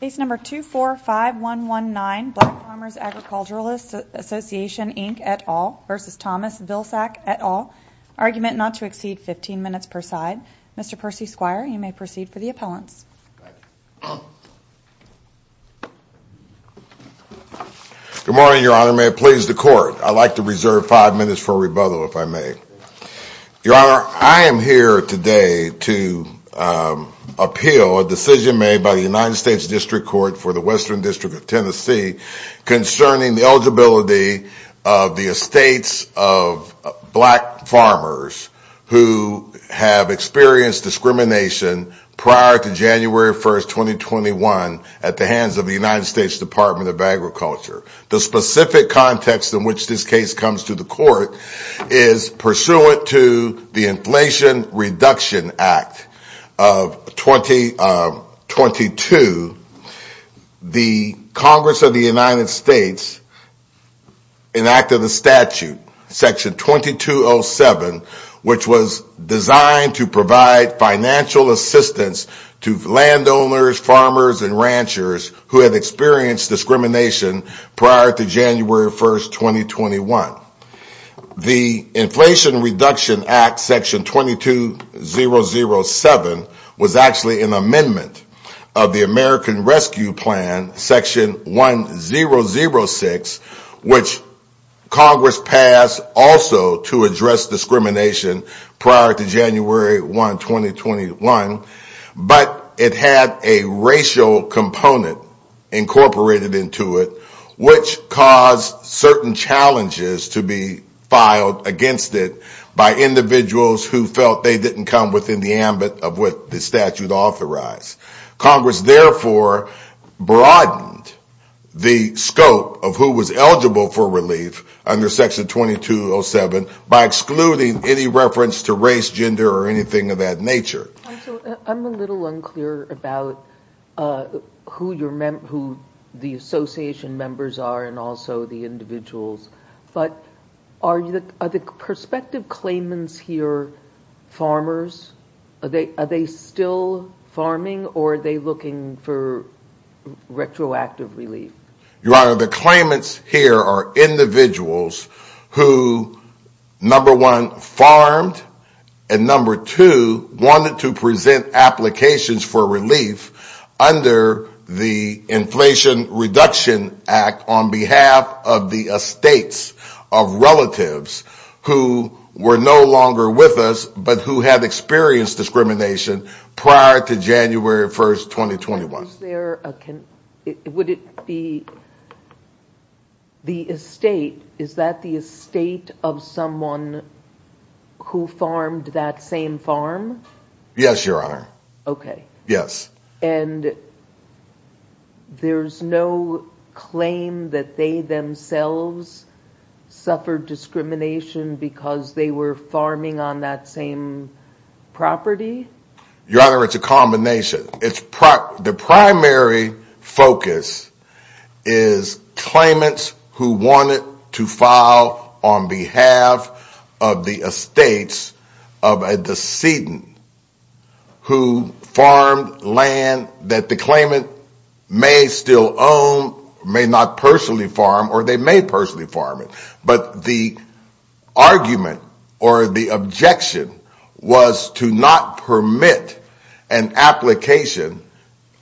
Case number 245119, Black Farmers Agriculturalists Association Inc et al. versus Thomas Vilsack et al. Argument not to exceed 15 minutes per side. Mr. Percy Squire, you may proceed for the appellants. Good morning, Your Honor. May it please the Court. I'd like to reserve five minutes for rebuttal, if I may. Your Honor, I am here today to appeal a decision made by the United States District Court for the Western District of Tennessee concerning the eligibility of the estates of black farmers who have experienced discrimination prior to January 1st, 2021 at the hands of the United States Department of Agriculture. The specific context in which this case comes to the Court is pursuant to the Inflation Reduction Act of 2022. The Congress of the United States enacted a statute, Section 2207, which was designed to provide financial assistance to landowners, farmers, and ranchers who have experienced discrimination prior to January 1st, 2021. The Inflation Reduction Act, Section 2207, was actually an amendment of the American Rescue Plan, Section 1006, which Congress passed also to address discrimination prior to January 1st, 2021, but it had a racial component incorporated into it, which caused certain challenges to be filed against it by individuals who felt they didn't come within the ambit of what the statute authorized. Congress therefore broadened the scope of who was eligible for relief under Section 2207 by excluding any reference to race, gender, or anything of that nature. I'm a little unclear about who the association members are and also the individuals, but are the perspective claimants here farmers? Are they still farming or are they looking for retroactive relief? Your Honor, the claimants here are individuals who, number one, farmed, and number two, wanted to present applications for relief under the Inflation Reduction Act on behalf of the estates of relatives who were no longer with us but who had experienced discrimination prior to January 1st, 2021. Was there a, would it be the estate, is that the estate of someone who farmed that same farm? Yes, Your Honor. Okay. Yes. And there's no claim that they themselves suffered discrimination because they were farming on that same property? Your Honor, it's a combination. The primary focus is claimants who wanted to file on behalf of the estates of a decedent who farmed land that the claimant may still own, may not personally farm, or they may personally farm it. But the argument or the objection was to not permit an application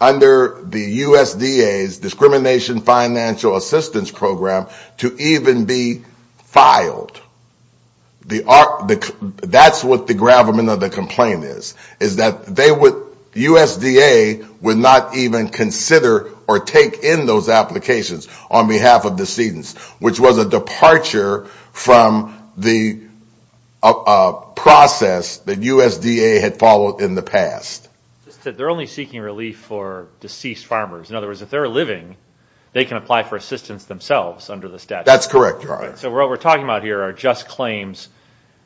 under the USDA's Discrimination Financial Assistance Program to even be filed. That's what the gravamen of the complaint is, is that they would, USDA would not even consider or take in those applications on behalf of the decedents, which was a departure from the process that USDA had followed in the past. They're only seeking relief for deceased farmers. In other words, if they're living, they can apply for assistance themselves under the statute. That's correct, Your Honor. So what we're talking about here are just claims.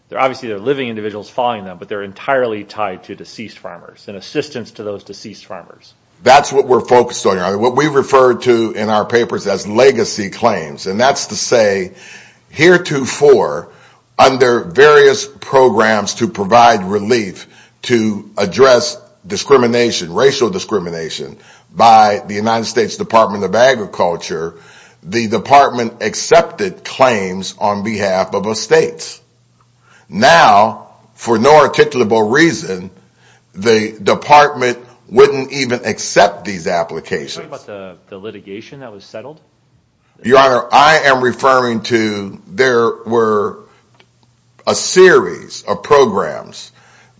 They're obviously, they're living individuals following them, but they're entirely tied to deceased farmers and assistance to those deceased farmers. That's what we're focused on, Your Honor. What we refer to in our papers as legacy claims, and that's to say heretofore, under various programs to provide relief to address discrimination, racial discrimination, by the United States Department of Agriculture, the department accepted claims on behalf of estates. Now, for no articulable reason, the department wouldn't even accept these applications. Are you talking about the litigation that was settled? Your Honor, I am referring to, there were a series of programs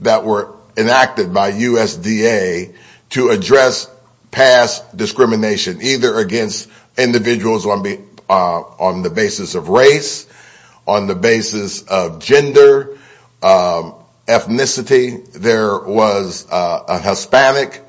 that were enacted by USDA to address past discrimination, either against individuals on the basis of race, on the basis of gender, ethnicity. There was a Hispanic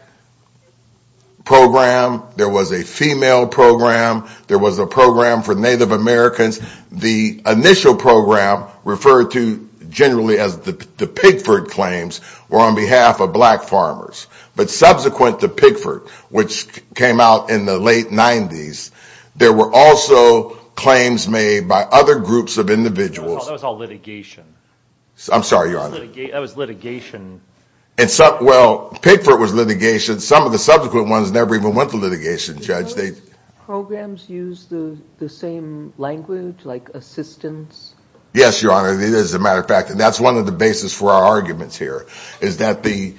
program. There was a female program. There was a program for Native Americans. The initial program, referred to generally as the Pigford claims, were on behalf of black farmers. But subsequent to Pigford, which came out in the late 90s, there were also claims made by other groups of individuals. That was all litigation. I'm sorry, Your Honor. That was litigation. Well, Pigford was litigation. Some of the subsequent ones never even went to litigation, Judge. Did those programs use the same language, like assistance? Yes, Your Honor. It is, as a matter of fact. That's one of the basis for our arguments here, is that the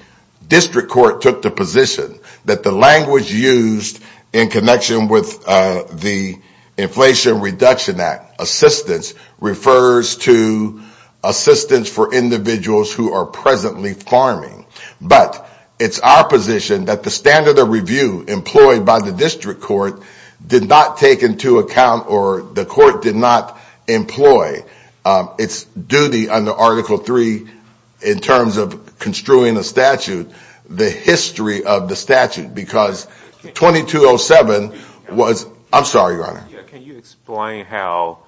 district court took the position that the language used in connection with the Inflation Reduction Act, assistance, refers to assistance for individuals who are presently farming. But it's our position that the standard of review employed by the district court did not take into account, or the court did not employ, its duty under Article III in terms of construing a statute, the history of the statute, because 2207 was... I'm sorry, Your Can you explain how,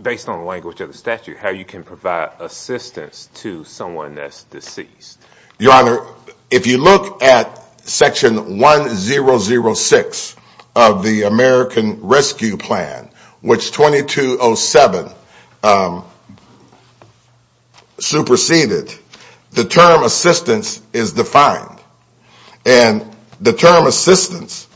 based on the language of the statute, how you can provide assistance to someone that's deceased? Your Honor, if you look at Section 1006 of the American Rescue Plan, which 2207 superseded, the term assistance is defined. The term assistance,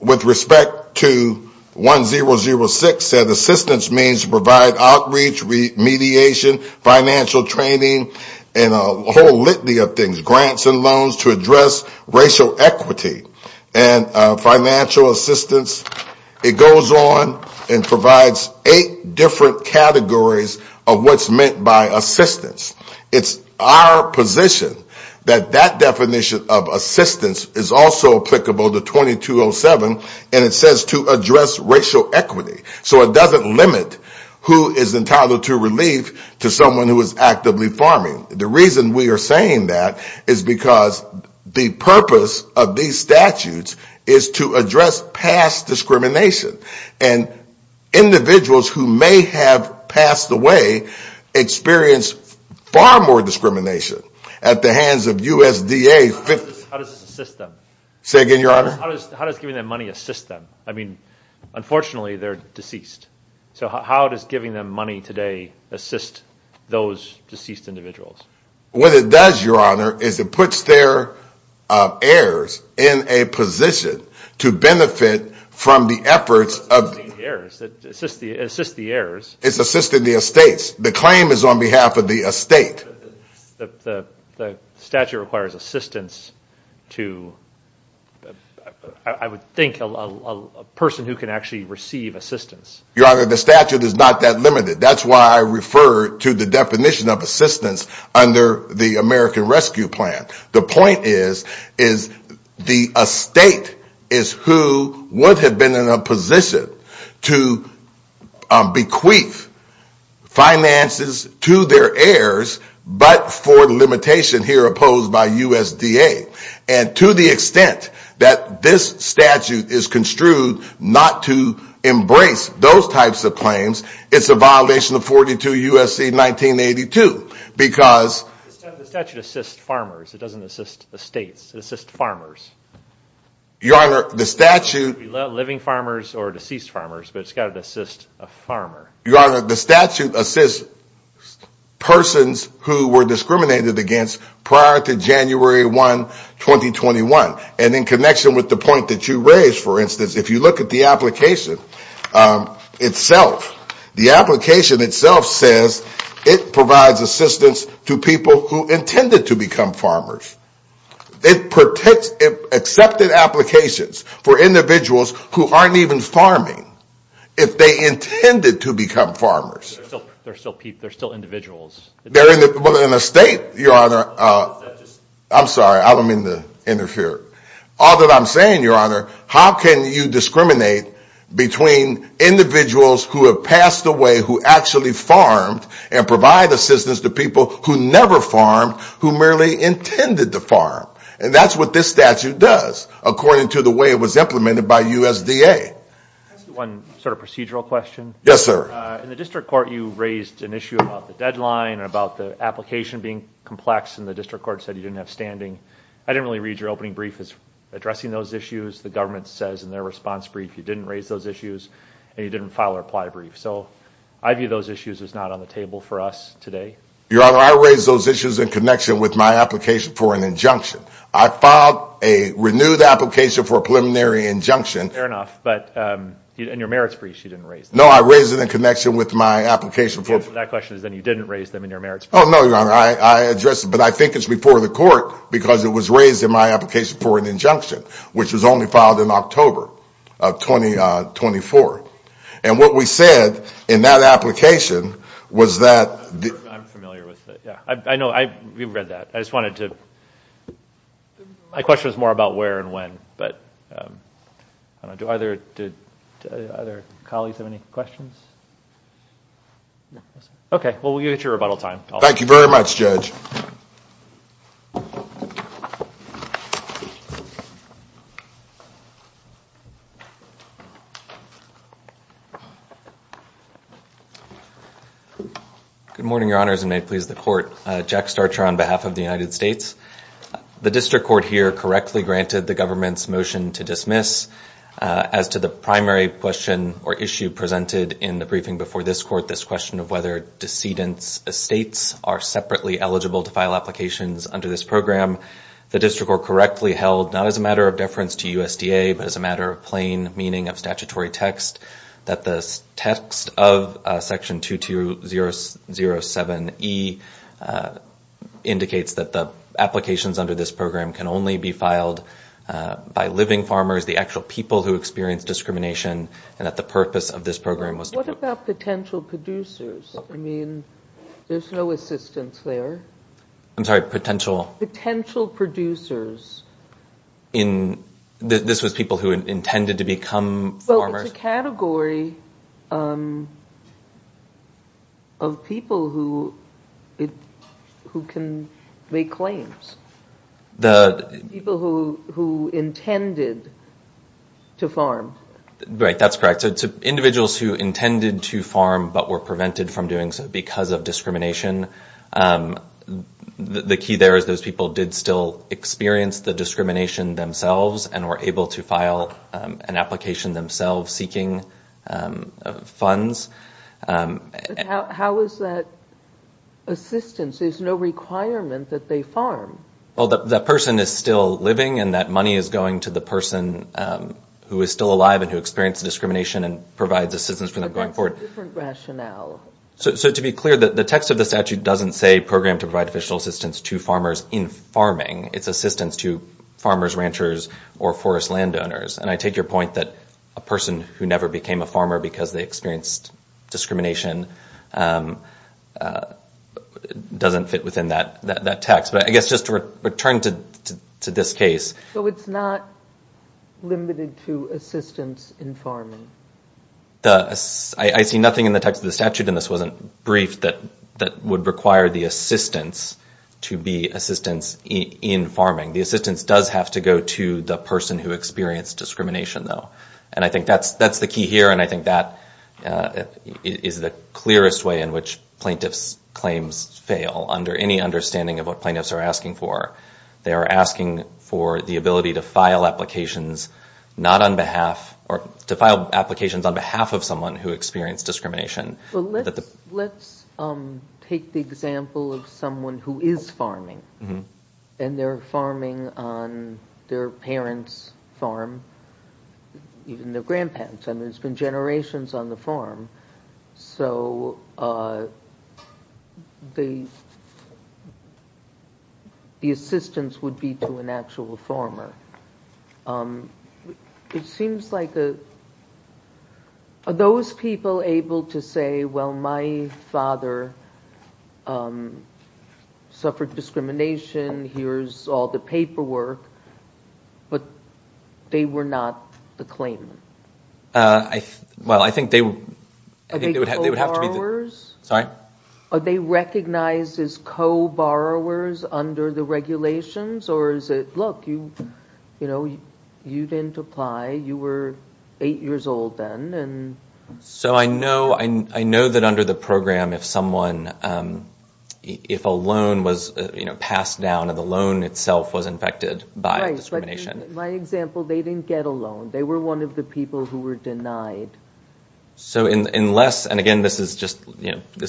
with respect to 1006, said assistance means provide outreach, remediation, financial training, and a whole litany of things, grants and loans to address racial equity and financial assistance. It goes on and provides eight different categories of what's meant by assistance. It's our position that that definition of assistance is also applicable to 2207, and it says to address racial equity. So it doesn't limit who is entitled to relief to someone who is actively farming. The reason we are saying that is because the purpose of these statutes is to address past discrimination, and individuals who may have passed away experience far more discrimination at the hands of USDA... How does this assist them? Say again, Your Honor? How does giving them money assist them? I mean, unfortunately, they're deceased. So how does giving them money today assist those deceased individuals? What it does, Your Honor, is it puts their heirs in a position to benefit from the efforts of... Assists the heirs. It assists the heirs. It's assisting the estates. The claim is on behalf of the estate. The statute requires assistance to, I would think, a person who can actually receive assistance. Your Honor, the statute is not that limited. That's why I refer to the definition of assistance under the American Rescue Plan. The point is, the estate is who would have been in a position to bequeath finances to their heirs, but for the limitation here opposed by USDA. To the extent that this statute is construed not to embrace those types of claims, it's a violation of 42 U.S.C. 1982, because... The statute assists farmers, it doesn't assist estates, it assists farmers. Your Honor, the statute... Living farmers or deceased farmers, but it's got to assist a farmer. Your Honor, the statute assists persons who were discriminated against prior to January 1, 2021. In connection with the point that you raised, for instance, if you look at the application itself, the application itself says it provides assistance to people who intended to become farmers. It accepts applications for individuals who aren't even farming. If they intended to become farmers... There are still people, there are still individuals... They're in a state, Your Honor... That just... I'm sorry, I don't mean to interfere. All that I'm saying, Your Honor, how can you discriminate between individuals who have passed away who actually farmed and provide assistance to people who never farmed, who merely intended to farm? That's what this statute does, according to the way it was implemented by USDA. Can I ask you one sort of procedural question? Yes, sir. In the district court, you raised an issue about the deadline, about the application being complex, and the district court said you didn't have standing. I didn't really read your opening brief as addressing those issues. The government says in their response brief you didn't raise those issues, and you didn't file a reply brief. So I view those issues as not on the table for us today. Your Honor, I raised those issues in connection with my application for an injunction. I filed a renewed application for a preliminary injunction... Fair enough, but in your merits brief, you didn't raise them. No, I raised it in connection with my application for... Okay, so that question is then you didn't raise them in your merits brief. Oh, no, Your Honor. I addressed it, but I think it's before the court because it was raised in my application for an injunction, which was only filed in October of 2024. What we said in that application was that... I'm familiar with it. Yeah. I know. We've read that. I just wanted to... My question was more about where and when, but I don't know, do other colleagues have any questions? Okay, well, we'll give it to you at rebuttal time. Thank you very much, Judge. Good morning, Your Honors, and may it please the court. Jack Starcher on behalf of the United States. The district court here correctly granted the government's motion to dismiss. As to the primary question or issue presented in the briefing before this court, this question of whether decedent's estates are separately eligible to file applications under this program, the district court correctly held, not as a matter of deference to USDA, but as a matter of plain meaning of statutory text, that the text of section 2207E indicates that the applications under this program can only be filed by living farmers, the actual people who experience discrimination, and that the purpose of this program was to... What about potential producers? I mean, there's no assistance there. I'm sorry, potential... Potential producers. In... This was people who intended to become farmers? Well, it's a category of people who can make claims. The... People who intended to farm. Right, that's correct. So it's individuals who intended to farm, but were prevented from doing so because of discrimination. The key there is those people did still experience the discrimination themselves and were able to file an application themselves seeking funds. How is that assistance? There's no requirement that they farm. Well, the person is still living and that money is going to the person who is still alive and who experienced discrimination and provides assistance for them going forward. But that's a different rationale. So to be clear, the text of the statute doesn't say program to provide additional assistance to farmers in farming. It's assistance to farmers, ranchers, or forest landowners. And I take your point that a person who never became a farmer because they experienced discrimination doesn't fit within that text. But I guess just to return to this case... So it's not limited to assistance in farming? I see nothing in the text of the statute, and this wasn't brief, that would require the assistance to be assistance in farming. The assistance does have to go to the person who experienced discrimination, though. And I think that's the key here, and I think that is the clearest way in which plaintiffs claims fail under any understanding of what plaintiffs are asking for. They are asking for the ability to file applications on behalf of someone who experienced discrimination. Well, let's take the example of someone who is farming, and they're farming on their parents' farm, even their grandparents'. And there's been generations on the farm. So the assistance would be to an actual farmer. It seems like... Are those people able to say, well, my father suffered discrimination, here's all the paperwork, but they were not the claimant? Well, I think they would have to be... Are they co-borrowers? Sorry? Are they recognized as co-borrowers under the regulations? Or is it, look, you didn't apply. You were eight years old then. So I know that under the program, if someone, if a loan was passed down, and the loan itself was infected by discrimination... Right, but in my example, they didn't get a loan. They were one of the people who were denied. So unless... And again, this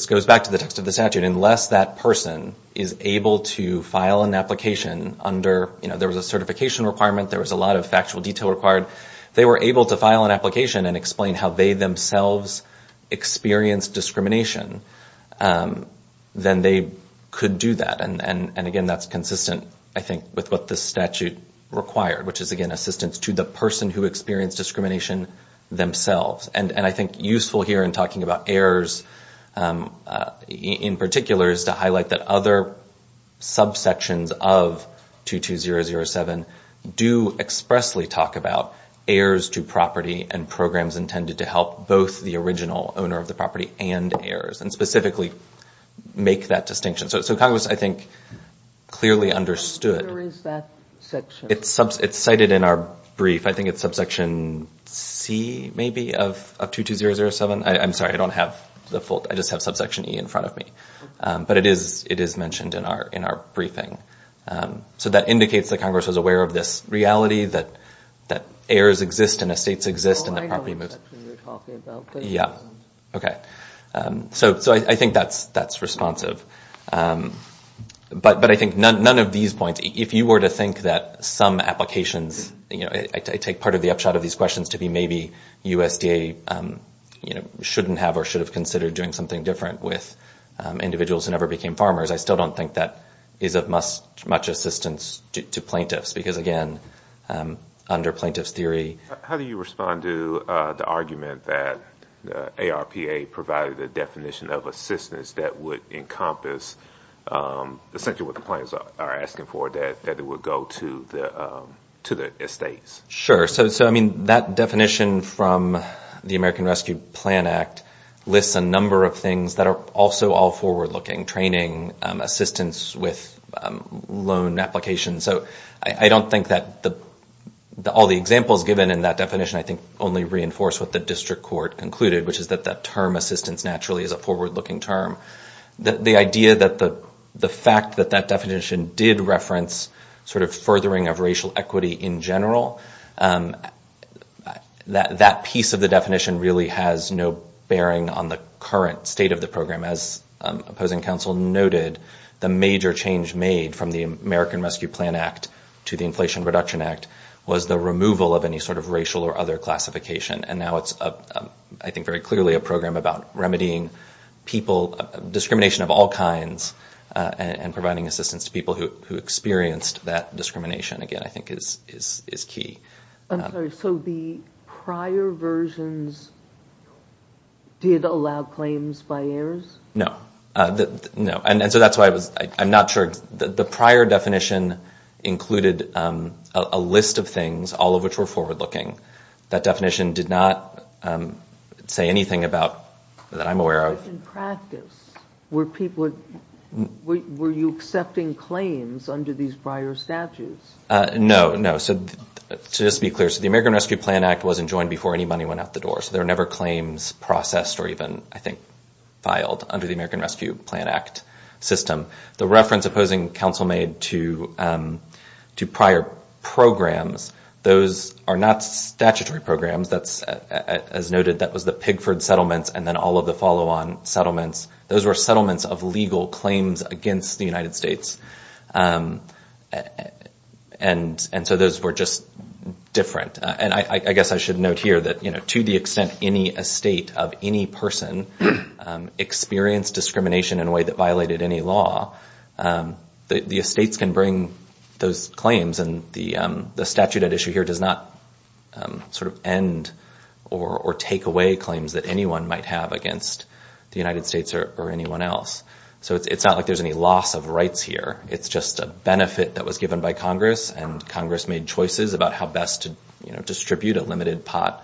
goes back to the text of the statute. Unless that person is able to file an application under... There was a certification requirement. There was a lot of factual detail required. If they were able to file an application and explain how they themselves experienced discrimination, then they could do that. And again, that's consistent, I think, with what the statute required, which is, again, to provide assistance to the person who experienced discrimination themselves. And I think useful here in talking about heirs, in particular, is to highlight that other subsections of 22007 do expressly talk about heirs to property and programs intended to help both the original owner of the property and heirs, and specifically make that distinction. So Congress, I think, clearly understood... Where is that section? It's cited in our brief. I think it's subsection C, maybe, of 22007. I'm sorry. I don't have the full... I just have subsection E in front of me. But it is mentioned in our briefing. So that indicates that Congress was aware of this reality that heirs exist and estates exist and the property moves. Well, I know what section you're talking about, but... Yeah. Okay. So I think that's responsive. But I think none of these points... If you were to think that some applications... I take part of the upshot of these questions to be maybe USDA shouldn't have or should have considered doing something different with individuals who never became farmers. I still don't think that is of much assistance to plaintiffs. Because, again, under plaintiff's theory... How do you respond to the argument that ARPA provided a definition of assistance that would encompass essentially what the plaintiffs are asking for, that it would go to the estates? Sure. So that definition from the American Rescue Plan Act lists a number of things that are also all forward-looking. Training, assistance with loan applications. So I don't think that all the examples given in that definition I think only reinforce what the district court concluded, which is that that term assistance naturally is a The idea that the fact that that definition did reference furthering of racial equity in general, that piece of the definition really has no bearing on the current state of the program. As opposing counsel noted, the major change made from the American Rescue Plan Act to the Inflation Reduction Act was the removal of any sort of racial or other classification. And now it's, I think, very clearly a program about remedying discrimination of all kinds and providing assistance to people who experienced that discrimination, again, I think is key. I'm sorry. So the prior versions did allow claims by heirs? No. No. And so that's why I'm not sure... The prior definition included a list of things, all of which were forward-looking. That definition did not say anything that I'm aware of. But in practice, were you accepting claims under these prior statutes? No. No. So just to be clear, the American Rescue Plan Act wasn't joined before any money went out the door. So there were never claims processed or even, I think, filed under the American Rescue Plan Act system. The reference opposing counsel made to prior programs, those are not statutory programs. As noted, that was the Pigford Settlements and then all of the follow-on settlements. Those were settlements of legal claims against the United States. And so those were just different. And I guess I should note here that to the extent any estate of any person experienced discrimination in a way that violated any law, the estates can bring those claims. And the statute at issue here does not end or take away claims that anyone might have against the United States or anyone else. So it's not like there's any loss of rights here. It's just a benefit that was given by Congress. And Congress made choices about how best to distribute a limited pot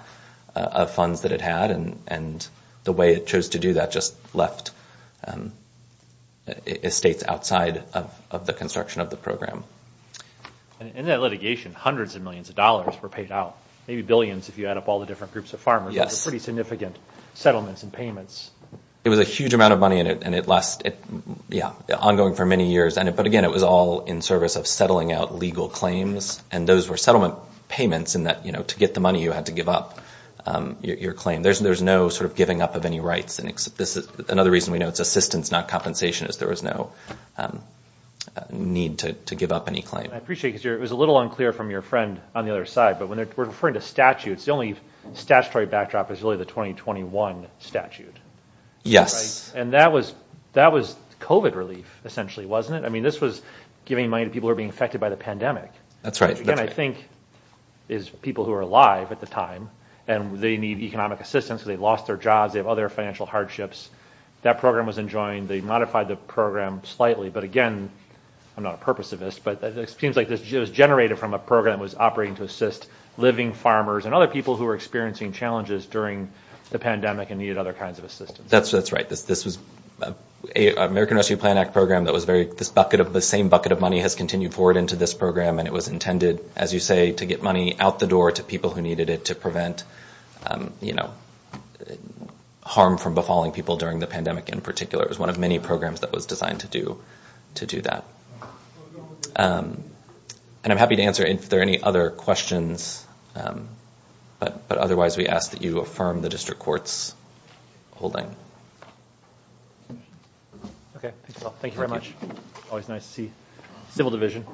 of funds that it And the way it chose to do that just left estates outside of the construction of the program. In that litigation, hundreds of millions of dollars were paid out. Maybe billions if you add up all the different groups of farmers. Yes. Pretty significant settlements and payments. It was a huge amount of money and it lasted, yeah, ongoing for many years. But again, it was all in service of settling out legal claims. And those were settlement payments in that, you know, to get the money, you had to give up your claim. There's no sort of giving up of any rights. Another reason we know it's assistance, not compensation, is there was no need to give up any claim. I appreciate because it was a little unclear from your friend on the other side. But when we're referring to statutes, the only statutory backdrop is really the 2021 statute. Yes. And that was COVID relief, essentially, wasn't it? I mean, this was giving money to people who are being affected by the pandemic. That's right. Again, I think it's people who are alive at the time and they need economic assistance because they lost their jobs. They have other financial hardships. That program was enjoined. They modified the program slightly. But again, I'm not a purposivist, but it seems like this was generated from a program that was operating to assist living farmers and other people who were experiencing challenges during the pandemic and needed other kinds of assistance. That's right. This was an American Rescue Plan Act program that was very, this bucket of the same bucket of money has continued forward into this program and it was intended, as you say, to get money out the door to people who needed it to prevent, you know, harm from befalling people during the pandemic in particular. It was one of many programs that was designed to do that. And I'm happy to answer if there are any other questions. But otherwise, we ask that you affirm the district court's holding. Okay. Thanks a lot. Thank you very much. Thank you. Civil Division.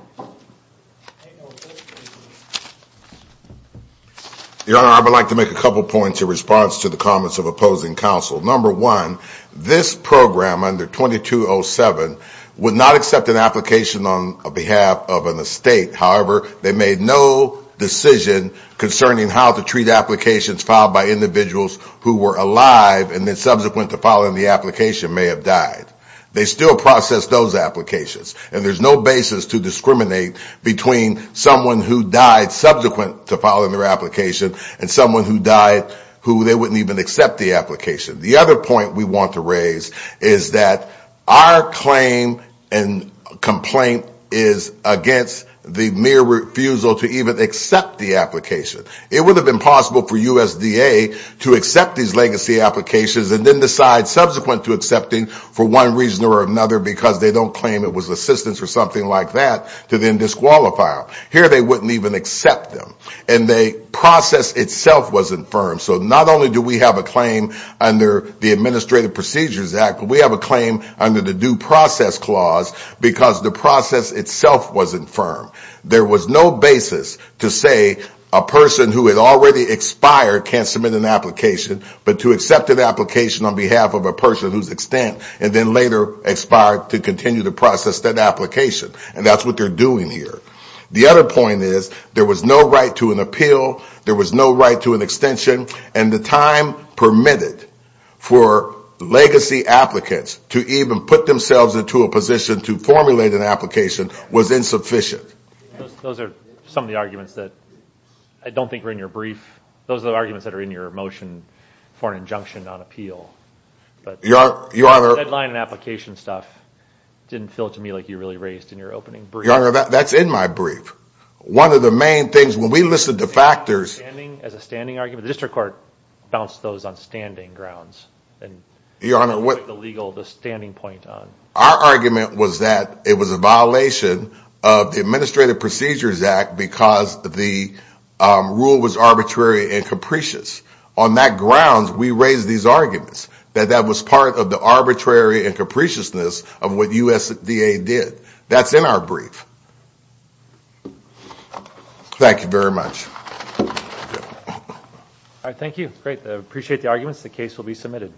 Your Honor, I would like to make a couple of points in response to the comments of opposing counsel. Number one, this program under 2207 would not accept an application on behalf of an estate. However, they made no decision concerning how to treat applications filed by individuals who were alive and then subsequent to filing the application may have died. They still process those applications and there's no basis to discriminate between someone who died subsequent to filing their application and someone who died who they wouldn't even accept the application. The other point we want to raise is that our claim and complaint is against the mere refusal to even accept the application. It would have been possible for USDA to accept these legacy applications and then decide subsequent to accepting for one reason or another because they don't claim it was assistance or something like that to then disqualify them. Here they wouldn't even accept them. And the process itself wasn't firm. So not only do we have a claim under the Administrative Procedures Act, but we have a claim under the Due Process Clause because the process itself wasn't firm. There was no basis to say a person who had already expired can't submit an application but to accept an application on behalf of a person whose extent and then later expired to continue to process that application. And that's what they're doing here. The other point is there was no right to an appeal, there was no right to an extension, and the time permitted for legacy applicants to even put themselves into a position to formulate an application was insufficient. Those are some of the arguments that I don't think are in your brief. Those are the arguments that are in your motion for an injunction on appeal. Your Honor. The deadline and application stuff didn't feel to me like you really raised in your opening brief. Your Honor, that's in my brief. One of the main things, when we listen to factors. As a standing argument, the district court bounced those on standing grounds. Your Honor. The legal, the standing point on. Our argument was that it was a violation of the Administrative Procedures Act because the rule was arbitrary and capricious. On that grounds, we raised these arguments. That that was part of the arbitrary and capriciousness of what USDA did. That's in our brief. Thank you very much. All right. Thank you. Great. I appreciate the arguments. The case will be submitted.